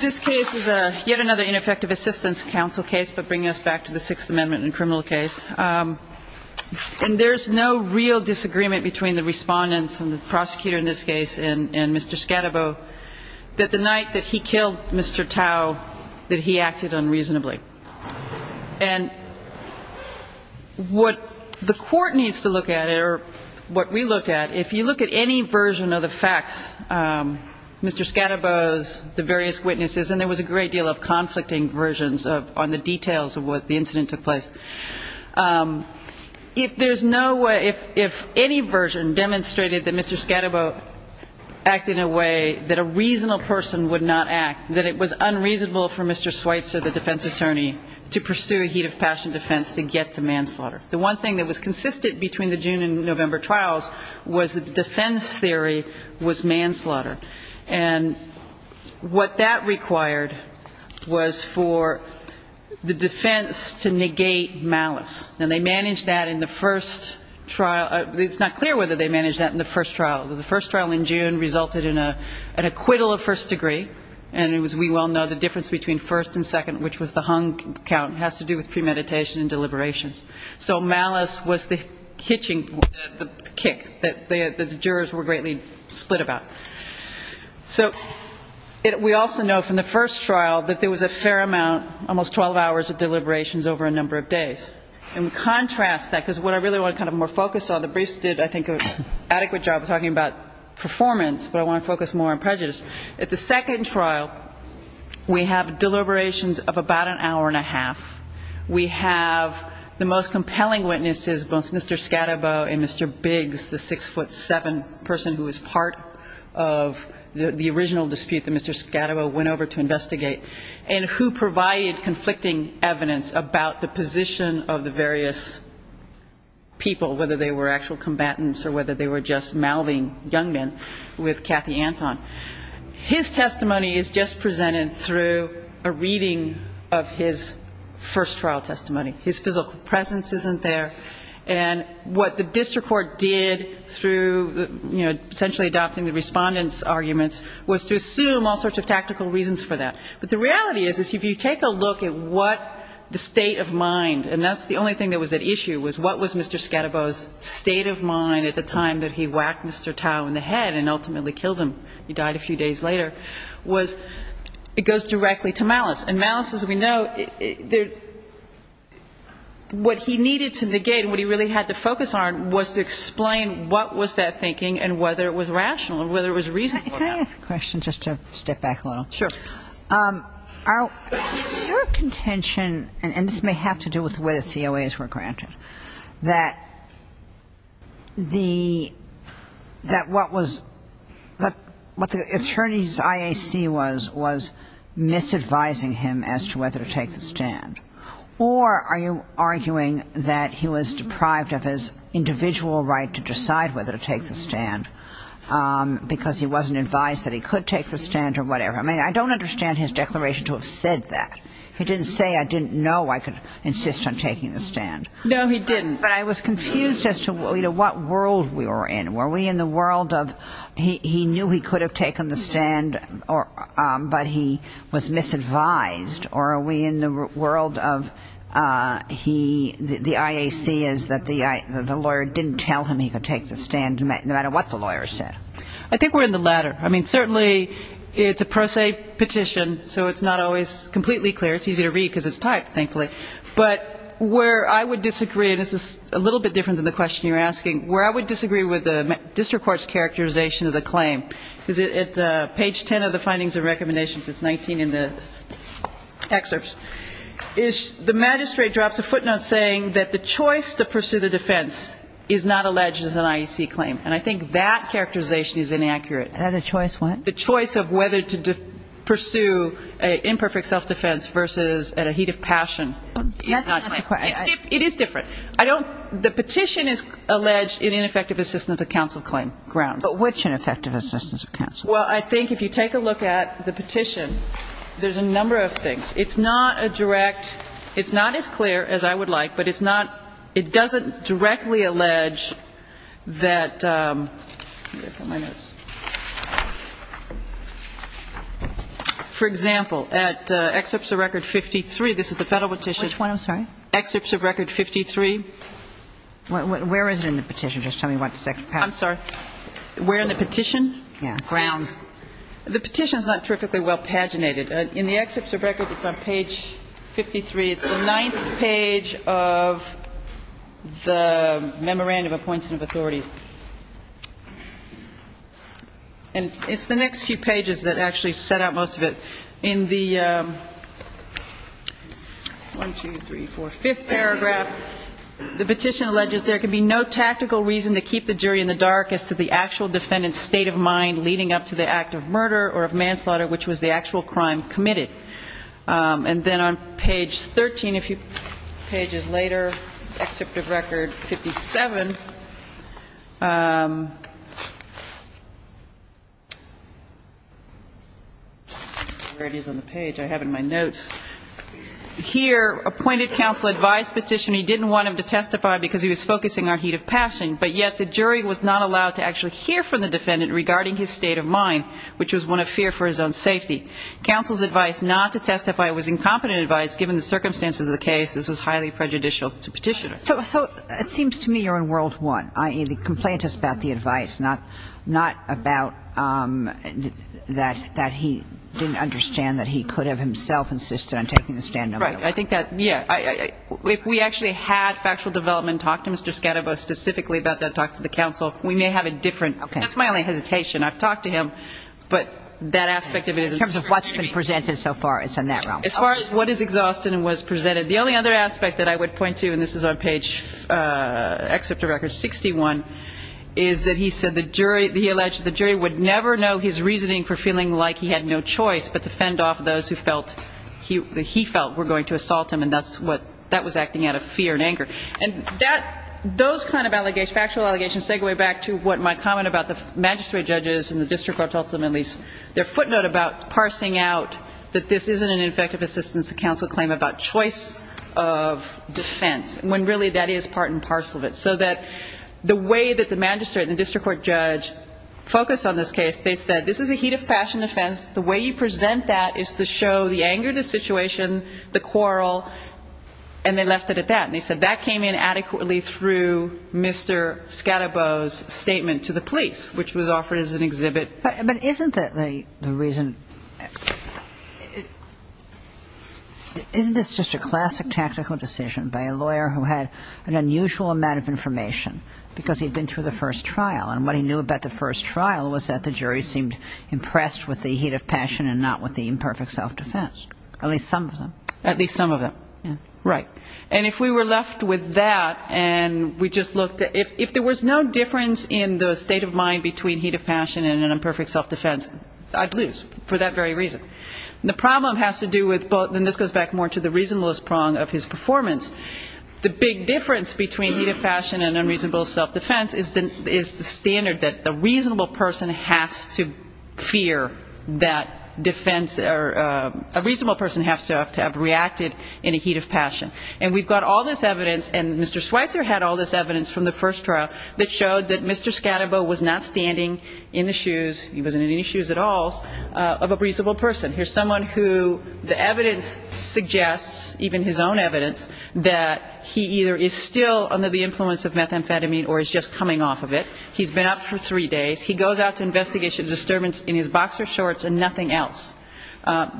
This case is yet another ineffective assistance counsel case, but bringing us back to the Sixth Amendment in a criminal case. And there's no real disagreement between the respondents and the prosecutor in this case and Mr. Scattebo that the night that he killed Mr. Tao, that he acted unreasonably. And what the court needs to look at, or what we look at, if you look at any version of the facts, Mr. Scattebo's, the various witnesses, and there was a great deal of conflicting versions on the details of what the incident took place. If there's no way, if any version demonstrated that Mr. Scattebo acted in a way that a reasonable person would not act, that it was unreasonable for Mr. Schweitzer, the defense attorney, to pursue a heat of passion defense to get to manslaughter. The one thing that was consistent between the June and November trials was that the defense theory was manslaughter. And what that required was for the defense to negate malice. And they managed that in the first trial. It's not clear whether they managed that in the first trial. The first trial in June resulted in an acquittal of first degree. And as we well know, the difference between first and second, which was the hung count, has to do with premeditation and deliberations. So malice was the hitching, the kick that the jurors were greatly split about. So we also know from the first trial that there was a fair amount, almost 12 hours of deliberations over a number of days. And we contrast that, because what I really want to kind of more focus on, the briefs did, I think, an adequate job of talking about performance, but I want to focus more on prejudice. At the second trial, we have deliberations of about an hour and a half. We have the most compelling witnesses, both Mr. Scadabo and Mr. Biggs, the six-foot-seven person who was part of the original dispute that Mr. Scadabo went over to investigate, and who provided conflicting evidence about the position of the various people, whether they were actual combatants or whether they were just mouthing young men, with Cathy Anton. His testimony is just presented through a reading of his first trial testimony. His physical presence isn't there. And what the district court did through, you know, essentially adopting the Respondent's arguments, was to assume all sorts of tactical reasons for that. But the reality is, if you take a look at what the state of mind, and that's the only thing that was at issue, was what was Mr. Scadabo's state of mind at the time that he whacked Mr. Tao in the head and ultimately killed him, he died a few days later, was it goes directly to malice. And malice, as we know, what he needed to negate, what he really had to focus on, was to explain what was that thinking and whether it was rational or whether it was reasonable. Can I ask a question, just to step back a little? Sure. Is your contention, and this may have to do with the way the COAs were granted, that the, that what was, what the attorney's IAC was, was misadvising him as to whether to take the stand? Or are you arguing that he was deprived of his individual right to decide whether to take the stand because he wasn't advised that he could take the stand or whatever? I mean, I don't understand his declaration to have said that. He didn't say, I didn't know I could insist on taking the stand. No, he didn't. But I was confused as to what world we were in. Were we in the world of he knew he could have taken the stand, but he was misadvised? Or are we in the world of he, the IAC is that the lawyer didn't tell him he could take the stand no matter what the lawyer said? I think we're in the latter. I mean, certainly it's a pro se petition, so it's not always completely clear. It's easy to read because it's typed, thankfully. But where I would disagree, and this is a little bit different than the question you're asking, where I would disagree with the district court's characterization of the claim, because at page 10 of the findings and recommendations, it's 19 in the excerpts, is the magistrate drops a footnote saying that the choice to pursue the defense is not alleged as an IAC claim. And I think that characterization is inaccurate. And the choice what? The choice of whether to pursue an imperfect self-defense versus at a heat of passion is not. But that's not the question. It is different. I don't the petition is alleged in ineffective assistance of the counsel claim grounds. But which ineffective assistance of counsel? Well, I think if you take a look at the petition, there's a number of things. It's not a direct, it's not as clear as I would like, but it's not, it doesn't directly allege that, for example, at excerpts of record 53, this is the Federal petition. Which one, I'm sorry? Excerpts of record 53. Where is it in the petition? Just tell me what the second part is. I'm sorry. Where in the petition? Yeah. Grounds. The petition is not terrifically well paginated. In the excerpts of record, it's on page 53. It's the ninth page of the Memorandum of Appointment of Authorities. And it's the next few pages that actually set out most of it. In the one, two, three, four, fifth paragraph, the petition alleges there can be no tactical reason to keep the jury in the dark as to the actual defendant's state of mind leading up to the act of murder or of manslaughter, which was the actual crime committed. And then on page 13, a few pages later, excerpt of record 57. Where it is on the page? I have it in my notes. Here, appointed counsel advised petitioner he didn't want him to testify because he was focusing on heat of passion, but yet the jury was not allowed to actually hear from the defendant regarding his state of mind, which was one of fear for his own safety. Counsel's advice not to testify was incompetent advice, given the circumstances of the case. This was highly prejudicial to petitioner. So it seems to me you're on world one, i.e., the complaint is about the advice, not about that he didn't understand that he could have himself insisted on taking the stand no matter what. Right. I think that, yeah. If we actually had factual development talk to Mr. Counsel, we may have a different, that's my only hesitation. I've talked to him, but that aspect of it isn't. In terms of what's been presented so far, it's in that realm. As far as what is exhausted and what's presented. The only other aspect that I would point to, and this is on page, excerpt of record 61, is that he said the jury, he alleged the jury would never know his reasoning for feeling like he had no choice but to fend off those who felt, he felt were going to assault him, and that's what, that was acting out of fear and anger. And that, those kind of allegations, factual allegations segue back to what my comment about the magistrate judges and the district court ultimately, their footnote about parsing out that this isn't an effective assistance to counsel claim about choice of defense, when really that is part and parcel of it. So that the way that the magistrate and district court judge focused on this case, they said this is a heat of passion defense, the way you present that is to show the anger of the situation, the quarrel, and they left it at that. And they said that came in adequately through Mr. Counsel. And it came in perfectly, and it was an answer to Mr. Scadabo's statement to the police, which was offered as an exhibit. But isn't that the reason, isn't this just a classic tactical decision by a lawyer who had an unusual amount of information, because he'd been through the first trial, and what he knew about the first trial was that the jury seemed impressed with the heat of passion and not with the imperfect self- defense, at least some of them. At least some of them. Right. If there was no difference in the state of mind between heat of passion and an imperfect self-defense, I'd lose, for that very reason. And the problem has to do with both, and this goes back more to the reasonablest prong of his performance. The big difference between heat of passion and unreasonable self-defense is the standard that a reasonable person has to fear that defense, or a reasonable person has to have reacted in a heat of passion. And we've got all this evidence, and Mr. Schweitzer had all this evidence from the first trial that showed that Mr. Scadabaugh was not standing in the shoes, he wasn't in any shoes at all, of a reasonable person. Here's someone who the evidence suggests, even his own evidence, that he either is still under the influence of methamphetamine or is just coming off of it. He's been up for three days. He goes out to investigate a disturbance in his boxer shorts and nothing else.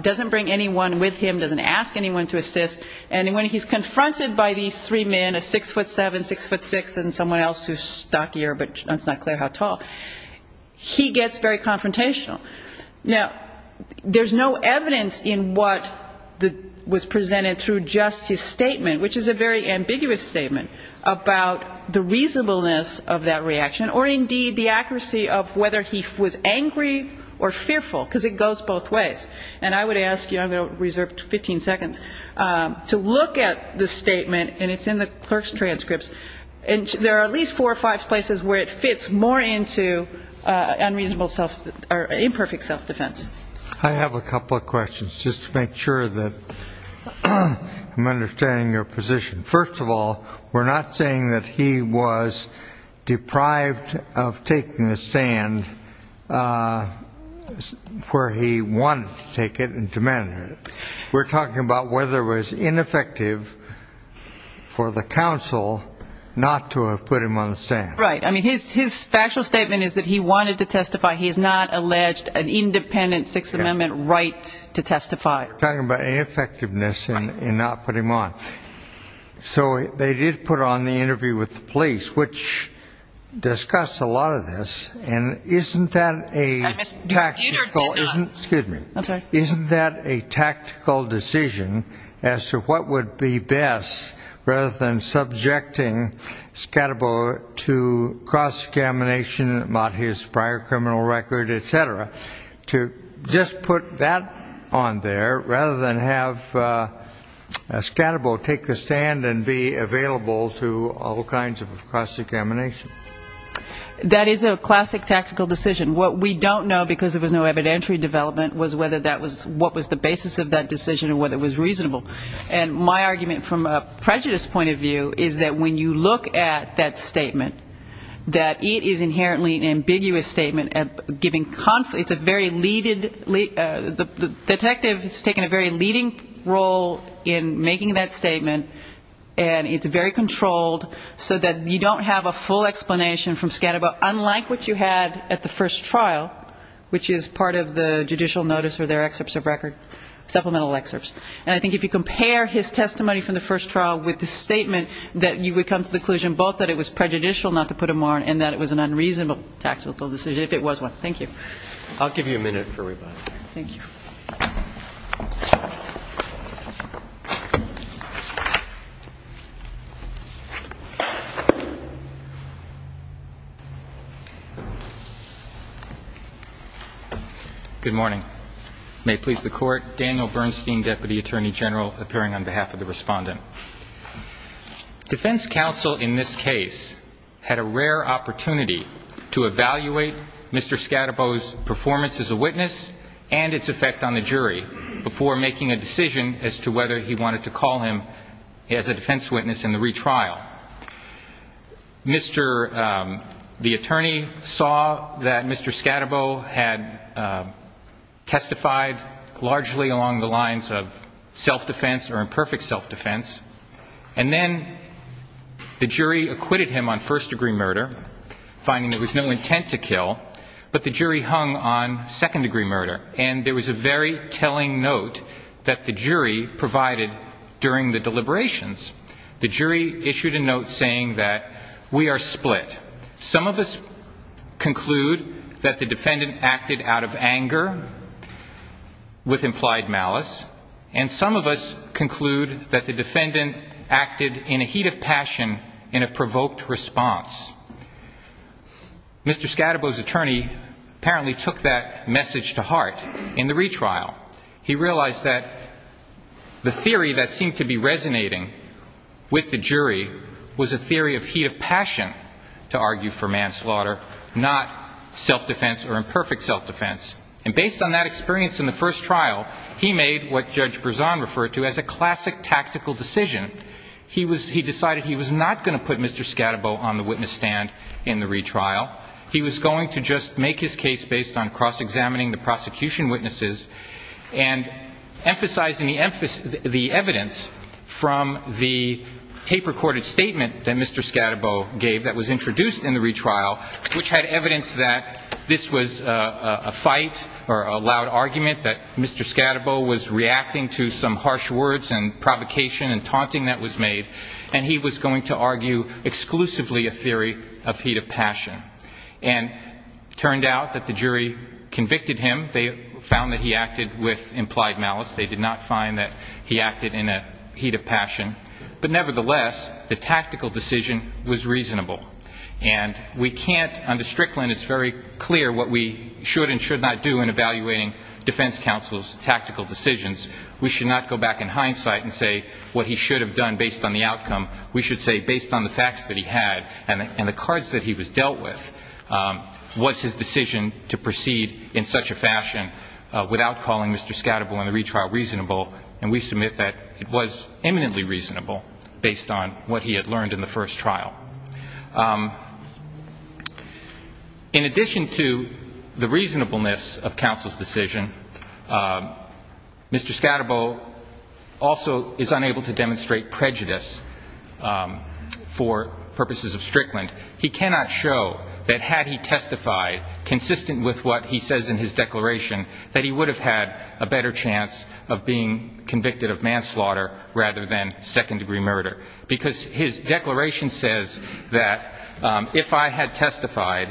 Doesn't bring anyone with him, doesn't ask anyone to assist. And when he's confronted by these three men, a 6'7", 6'6", and someone else who's stockier, but it's not clear how tall, he gets very confrontational. Now, there's no evidence in what was presented through just his statement, which is a very ambiguous statement, about the reasonableness of that reaction or, indeed, the accuracy of whether he was angry or fearful, because it goes both ways. And I would ask you, I'm going to reserve 15 seconds, I would ask you to look at the statement, and it's in the clerk's transcripts. And there are at least four or five places where it fits more into unreasonable self-defense, or imperfect self-defense. I have a couple of questions, just to make sure that I'm understanding your position. First of all, we're not saying that he was deprived of taking a stand where he wanted to take it and demanded it. We're talking about whether it was in his defense or not. And second of all, we're talking about whether it was ineffective for the counsel not to have put him on the stand. Right. I mean, his factual statement is that he wanted to testify. He has not alleged an independent Sixth Amendment right to testify. We're talking about ineffectiveness in not putting him on. So they did put on the interview with the police, which discussed a lot of this. And isn't that a tactical? Excuse me. I'm sorry. Isn't that a tactical decision as to what would be best, rather than subjecting Scalabro to cross-examination, not his prior criminal record, et cetera, to just put that on there, rather than have Scalabro take the stand and be available to all kinds of cross-examination? That is a classic tactical decision. Scalabro was not subject to cross-examination. And my argument from a prejudice point of view is that when you look at that statement, that it is inherently an ambiguous statement, giving conflict, it's a very leaded, the detective has taken a very leading role in making that statement, and it's very controlled, so that you don't have a full explanation from Scalabro, unlike what you had at the And I think that's a very important point. And I think if you compare his testimony from the first trial with the statement that you would come to the conclusion, both that it was prejudicial not to put him on, and that it was an unreasonable tactical decision, if it was one. Thank you. I'll give you a minute for rebuttal. Thank you. Good morning. May it please the Court. Daniel Bernstein, Deputy Attorney General, appearing on behalf of the Respondent. Defense counsel in this case had a rare opportunity to evaluate Mr. Scalabro's performance as a witness and its effect on the jury before making a decision as to whether he wanted to call him as a defense witness in the retrial. Mr. Scalabro had testified largely along the lines of self-defense or imperfect self-defense. And then the jury acquitted him on first-degree murder, finding there was no intent to kill. But the jury hung on second-degree murder. And there was a very telling note that the jury provided during the deliberations. The jury issued a note saying that we are split. We are divided. Some of us conclude that the defendant acted out of anger with implied malice. And some of us conclude that the defendant acted in a heat of passion in a provoked response. Mr. Scalabro's attorney apparently took that message to heart in the retrial. He realized that the theory that seemed to be resonating with the jury was a theory of heat of passion. He was not going to put him on the witness stand to argue for manslaughter, not self-defense or imperfect self-defense. And based on that experience in the first trial, he made what Judge Berzon referred to as a classic tactical decision. He decided he was not going to put Mr. Scalabro on the witness stand in the retrial. He was going to just make his case based on cross-examining the prosecution witnesses and emphasizing the evidence from the tape-recorded statement that Mr. Scalabro gave that was introduced in the retrial, which had evidence that this was a fight or a loud argument that Mr. Scalabro was reacting to some harsh words and provocation and taunting that was made. And he was going to argue exclusively a theory of heat of passion. And it turned out that the jury convicted him. They found that he acted with implied malice. They did not find that he acted in a heat of passion. But nevertheless, the tactical decision was made. The tactical decision was reasonable. And we can't, under Strickland it's very clear what we should and should not do in evaluating defense counsel's tactical decisions. We should not go back in hindsight and say what he should have done based on the outcome. We should say based on the facts that he had and the cards that he was dealt with, was his decision to proceed in such a fashion without calling Mr. Scalabro in the retrial reasonable. And we submit that it was eminently reasonable based on what he had learned in the first trial. In addition to the reasonableness of counsel's decision, Mr. Scalabro also is unable to demonstrate prejudice for purposes of Strickland. He cannot show that had he testified consistent with what he says in his declaration that he would have had a better chance of being convicted of manslaughter rather than second-degree murder. Because his declaration says that if I had testified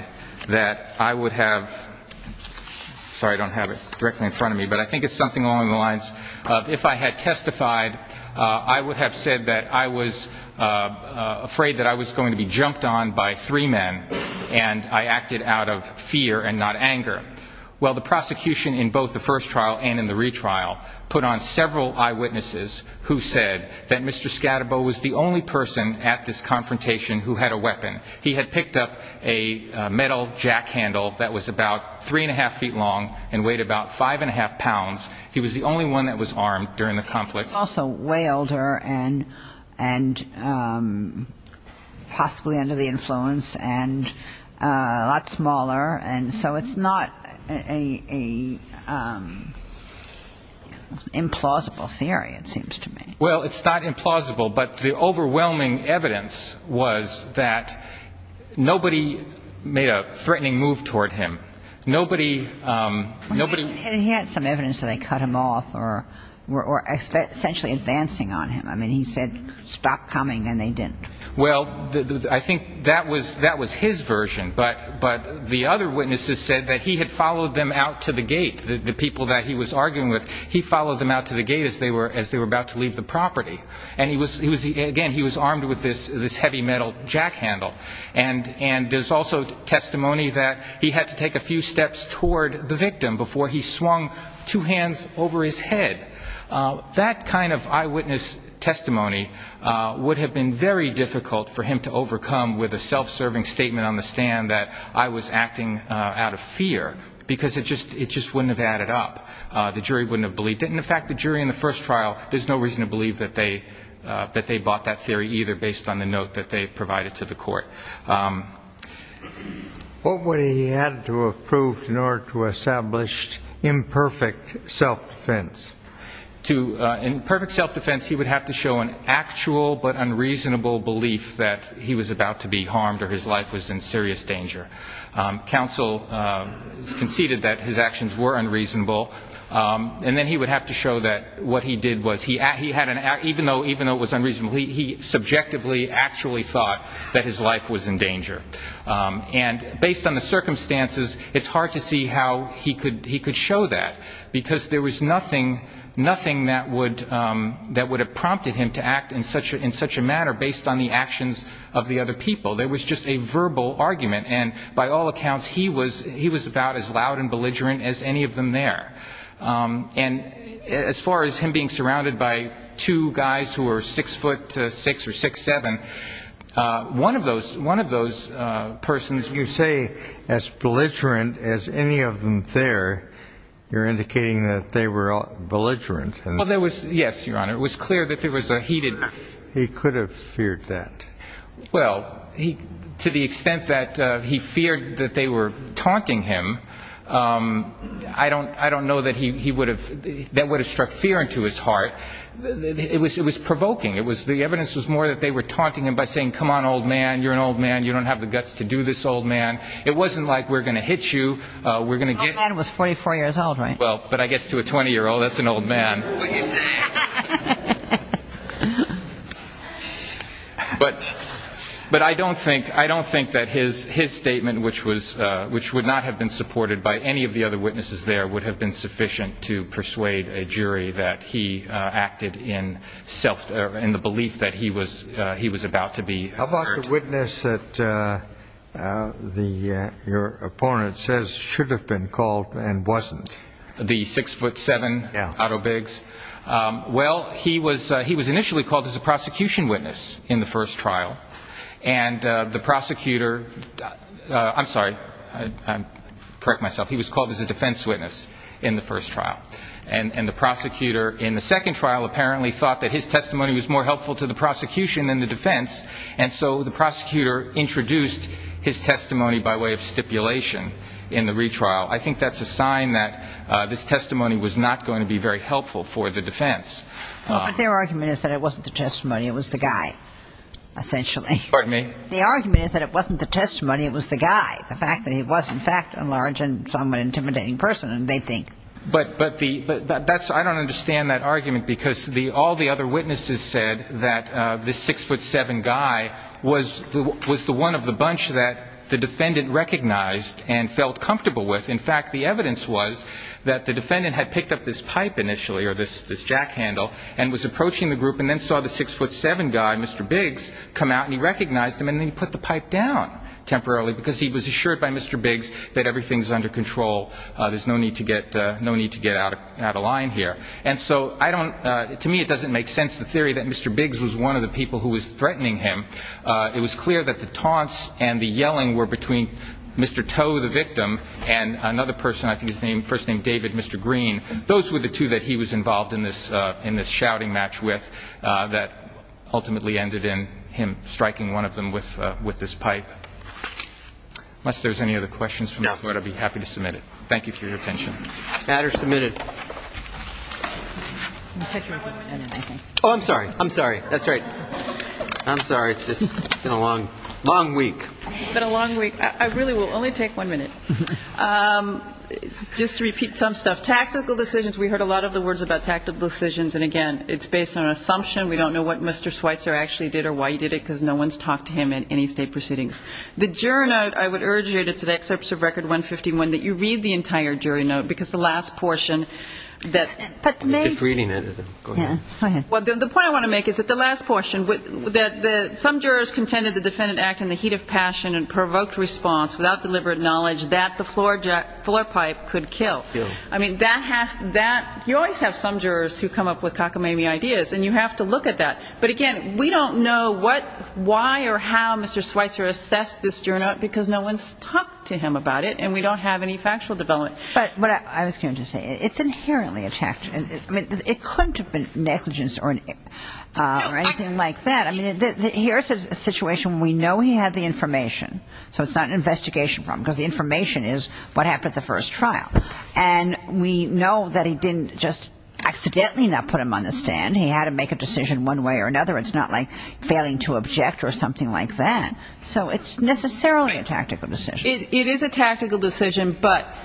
that I would have ‑‑ sorry, I don't have it directly in front of me, but I think it's something along the lines of if I had testified, I would have said that I was afraid that I was going to be jumped on by three men and I acted out of fear and not anger. Well, the prosecution in both the first trial and in the retrial put on several eyewitnesses who said that Mr. Scalabro was the only person at this confrontation who had a weapon. He had picked up a metal jack handle that was about three and a half feet long and weighed about five and a half pounds. He was the only one that was armed during the conflict. He was also way older and possibly under the influence and a lot smaller. And so it's not an implausible theory, it seems to me. Well, it's not implausible, but the overwhelming evidence was that nobody made a threatening move toward him. Nobody ‑‑ He had some evidence that they cut him off or essentially advancing on him. I mean, he said stop coming and they didn't. Well, I think that was his version. But the other witnesses said that he had followed them out to the gate, the people that he was arguing with. He followed them out to the gate as they were about to leave the property. And, again, he was armed with this heavy metal jack handle. And there's also testimony that he had to take a few steps toward the victim before he swung two hands over his head. That kind of eyewitness testimony would have been very difficult for him to overcome with a self‑serving statement on the stand that I was acting out of fear because it just wouldn't have added up. The jury wouldn't have believed it. And, in fact, the jury in the first trial, there's no reason to believe that they bought that theory either based on the note that they provided to the court. What would he have to have proved in order to establish imperfect self‑defense? In perfect self‑defense, he would have to show an actual but unreasonable belief that he was about to be harmed or his life was in serious danger. Counsel conceded that his actions were unreasonable. And then he would have to show that what he did was, even though it was unreasonable, he subjectively actually thought that his life was in danger. And based on the circumstances, it's hard to see how he could show that because there was nothing that would have prompted him to act in such a manner based on the actions of the other people. There was just a verbal argument. And by all accounts, he was about as loud and belligerent as any of them there. And as far as him being surrounded by two guys who were six foot six or six seven, one of those persons ‑‑ You say as belligerent as any of them there. You're indicating that they were belligerent. Well, there was ‑‑ yes, Your Honor. It was clear that there was a heated ‑‑ He could have feared that. Well, to the extent that he feared that they were taunting him, I don't know that he would have ‑‑ that would have struck fear into his heart. It was provoking. The evidence was more that they were taunting him by saying, come on, old man, you're an old man, you don't have the guts to do this, old man. It wasn't like we're going to hit you. Old man was 44 years old, right? Well, but I guess to a 20‑year‑old, that's an old man. What he said. But I don't think that his statement, which would not have been supported by any of the other witnesses there, would have been sufficient to persuade a jury that he acted in self ‑‑ in the belief that he was about to be hurt. How about the witness that your opponent says should have been called and wasn't? The six foot seven, Otto Biggs? Well, he was initially called as a prosecution witness in the first trial. And the prosecutor ‑‑ I'm sorry, I correct myself. He was called as a defense witness in the first trial. And the prosecutor in the second trial apparently thought that his testimony was more helpful to the prosecution than the defense, and so the prosecutor introduced his testimony by way of stipulation in the retrial. I think that's a sign that this testimony was not going to be very helpful for the defense. But their argument is that it wasn't the testimony, it was the guy, essentially. Pardon me? The argument is that it wasn't the testimony, it was the guy. The fact that he was, in fact, a large and somewhat intimidating person, they think. But that's ‑‑ I don't understand that argument, because all the other witnesses said that this six foot seven guy was the one of the bunch that the defendant recognized and felt comfortable with. In fact, the evidence was that the defendant had picked up this pipe initially, or this jack handle, and was approaching the group and then saw the six foot seven guy, Mr. Biggs, come out, and he recognized him and then he put the pipe down temporarily because he was assured by Mr. Biggs that everything's under control, there's no need to get out of line here. And so I don't ‑‑ to me it doesn't make sense, the theory that Mr. Biggs was one of the people who was threatening him. It was clear that the taunts and the yelling were between Mr. Toe, the victim, and another person, I think his first name, David, Mr. Green. Those were the two that he was involved in this shouting match with that ultimately ended in him striking one of them with this pipe. Unless there's any other questions, I'll be happy to submit it. Thank you for your attention. Add or submit it. Oh, I'm sorry. I'm sorry. That's right. I'm sorry. It's just been a long, long week. It's been a long week. I really will only take one minute. Just to repeat some stuff. Tactical decisions, we heard a lot of the words about tactical decisions, and again, it's based on assumption. We don't know what Mr. Schweitzer actually did or why he did it because no one's talked to him in any state proceedings. The jury note, I would urge you, and it's an excerpt of Record 151, that you read the entire jury note because the last portion that ‑‑ I'm just reading it. Go ahead. Well, the point I want to make is that the last portion, that some jurors contended the defendant acted in the heat of passion and provoked response without deliberate knowledge that the floor pipe could kill. I mean, you always have some jurors who come up with cockamamie ideas, and you have to look at that. But again, we don't know what, why, or how Mr. Schweitzer assessed this jury note because no one's talked to him about it, and we don't have any factual development. But what I was going to say, it's inherently a fact. I mean, it couldn't have been negligence or anything like that. I mean, here's a situation where we know he had the information, so it's not an investigation problem because the information is what happened at the first trial. And we know that he didn't just accidentally not put him on the stand. He had to make a decision one way or another. It's not like failing to object or something like that. So it's necessarily a tactical decision. It is a tactical decision, but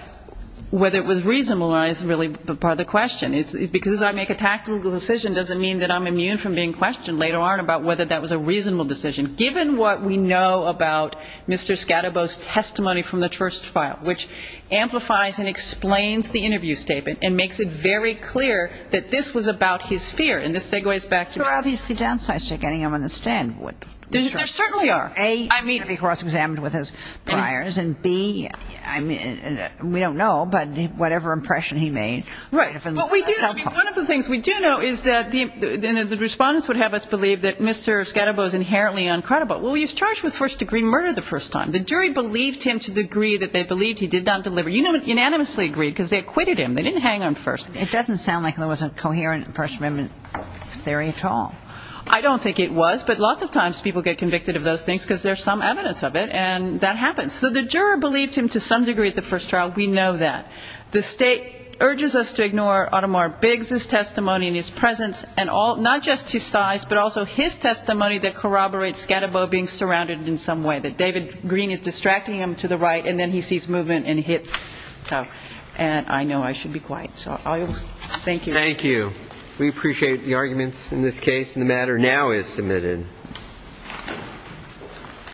whether it was reasonable or not is really part of the question. Because I make a tactical decision doesn't mean that I'm immune from being questioned later on about whether that was a reasonable decision. Given what we know about Mr. Scadabo's testimony from the first trial, which amplifies and explains the interview statement and makes it very clear that this was about his fear, and this segues back to his ---- There are obviously downsides to getting him on the stand. There certainly are. A, to be cross-examined with his priors, and B, we don't know, but whatever impression he made. Right. What we do know, one of the things we do know is that the respondents would have us believe that Mr. Scadabo is inherently uncredible. Well, he was charged with first degree murder the first time. The jury believed him to the degree that they believed he did not deliver. You know it unanimously agreed because they acquitted him. They didn't hang on first. It doesn't sound like there was a coherent first amendment theory at all. I don't think it was, but lots of times people get convicted of those things because there's some evidence of it, and that happens. So the juror believed him to some degree at the first trial. We know that. The State urges us to ignore Audemar Biggs' testimony and his presence, not just his size, but also his testimony that corroborates Scadabo being surrounded in some way, that David Green is distracting him to the right, and then he sees movement and hits tough. And I know I should be quiet. So thank you. Thank you. We appreciate the arguments in this case, and the matter now is submitted.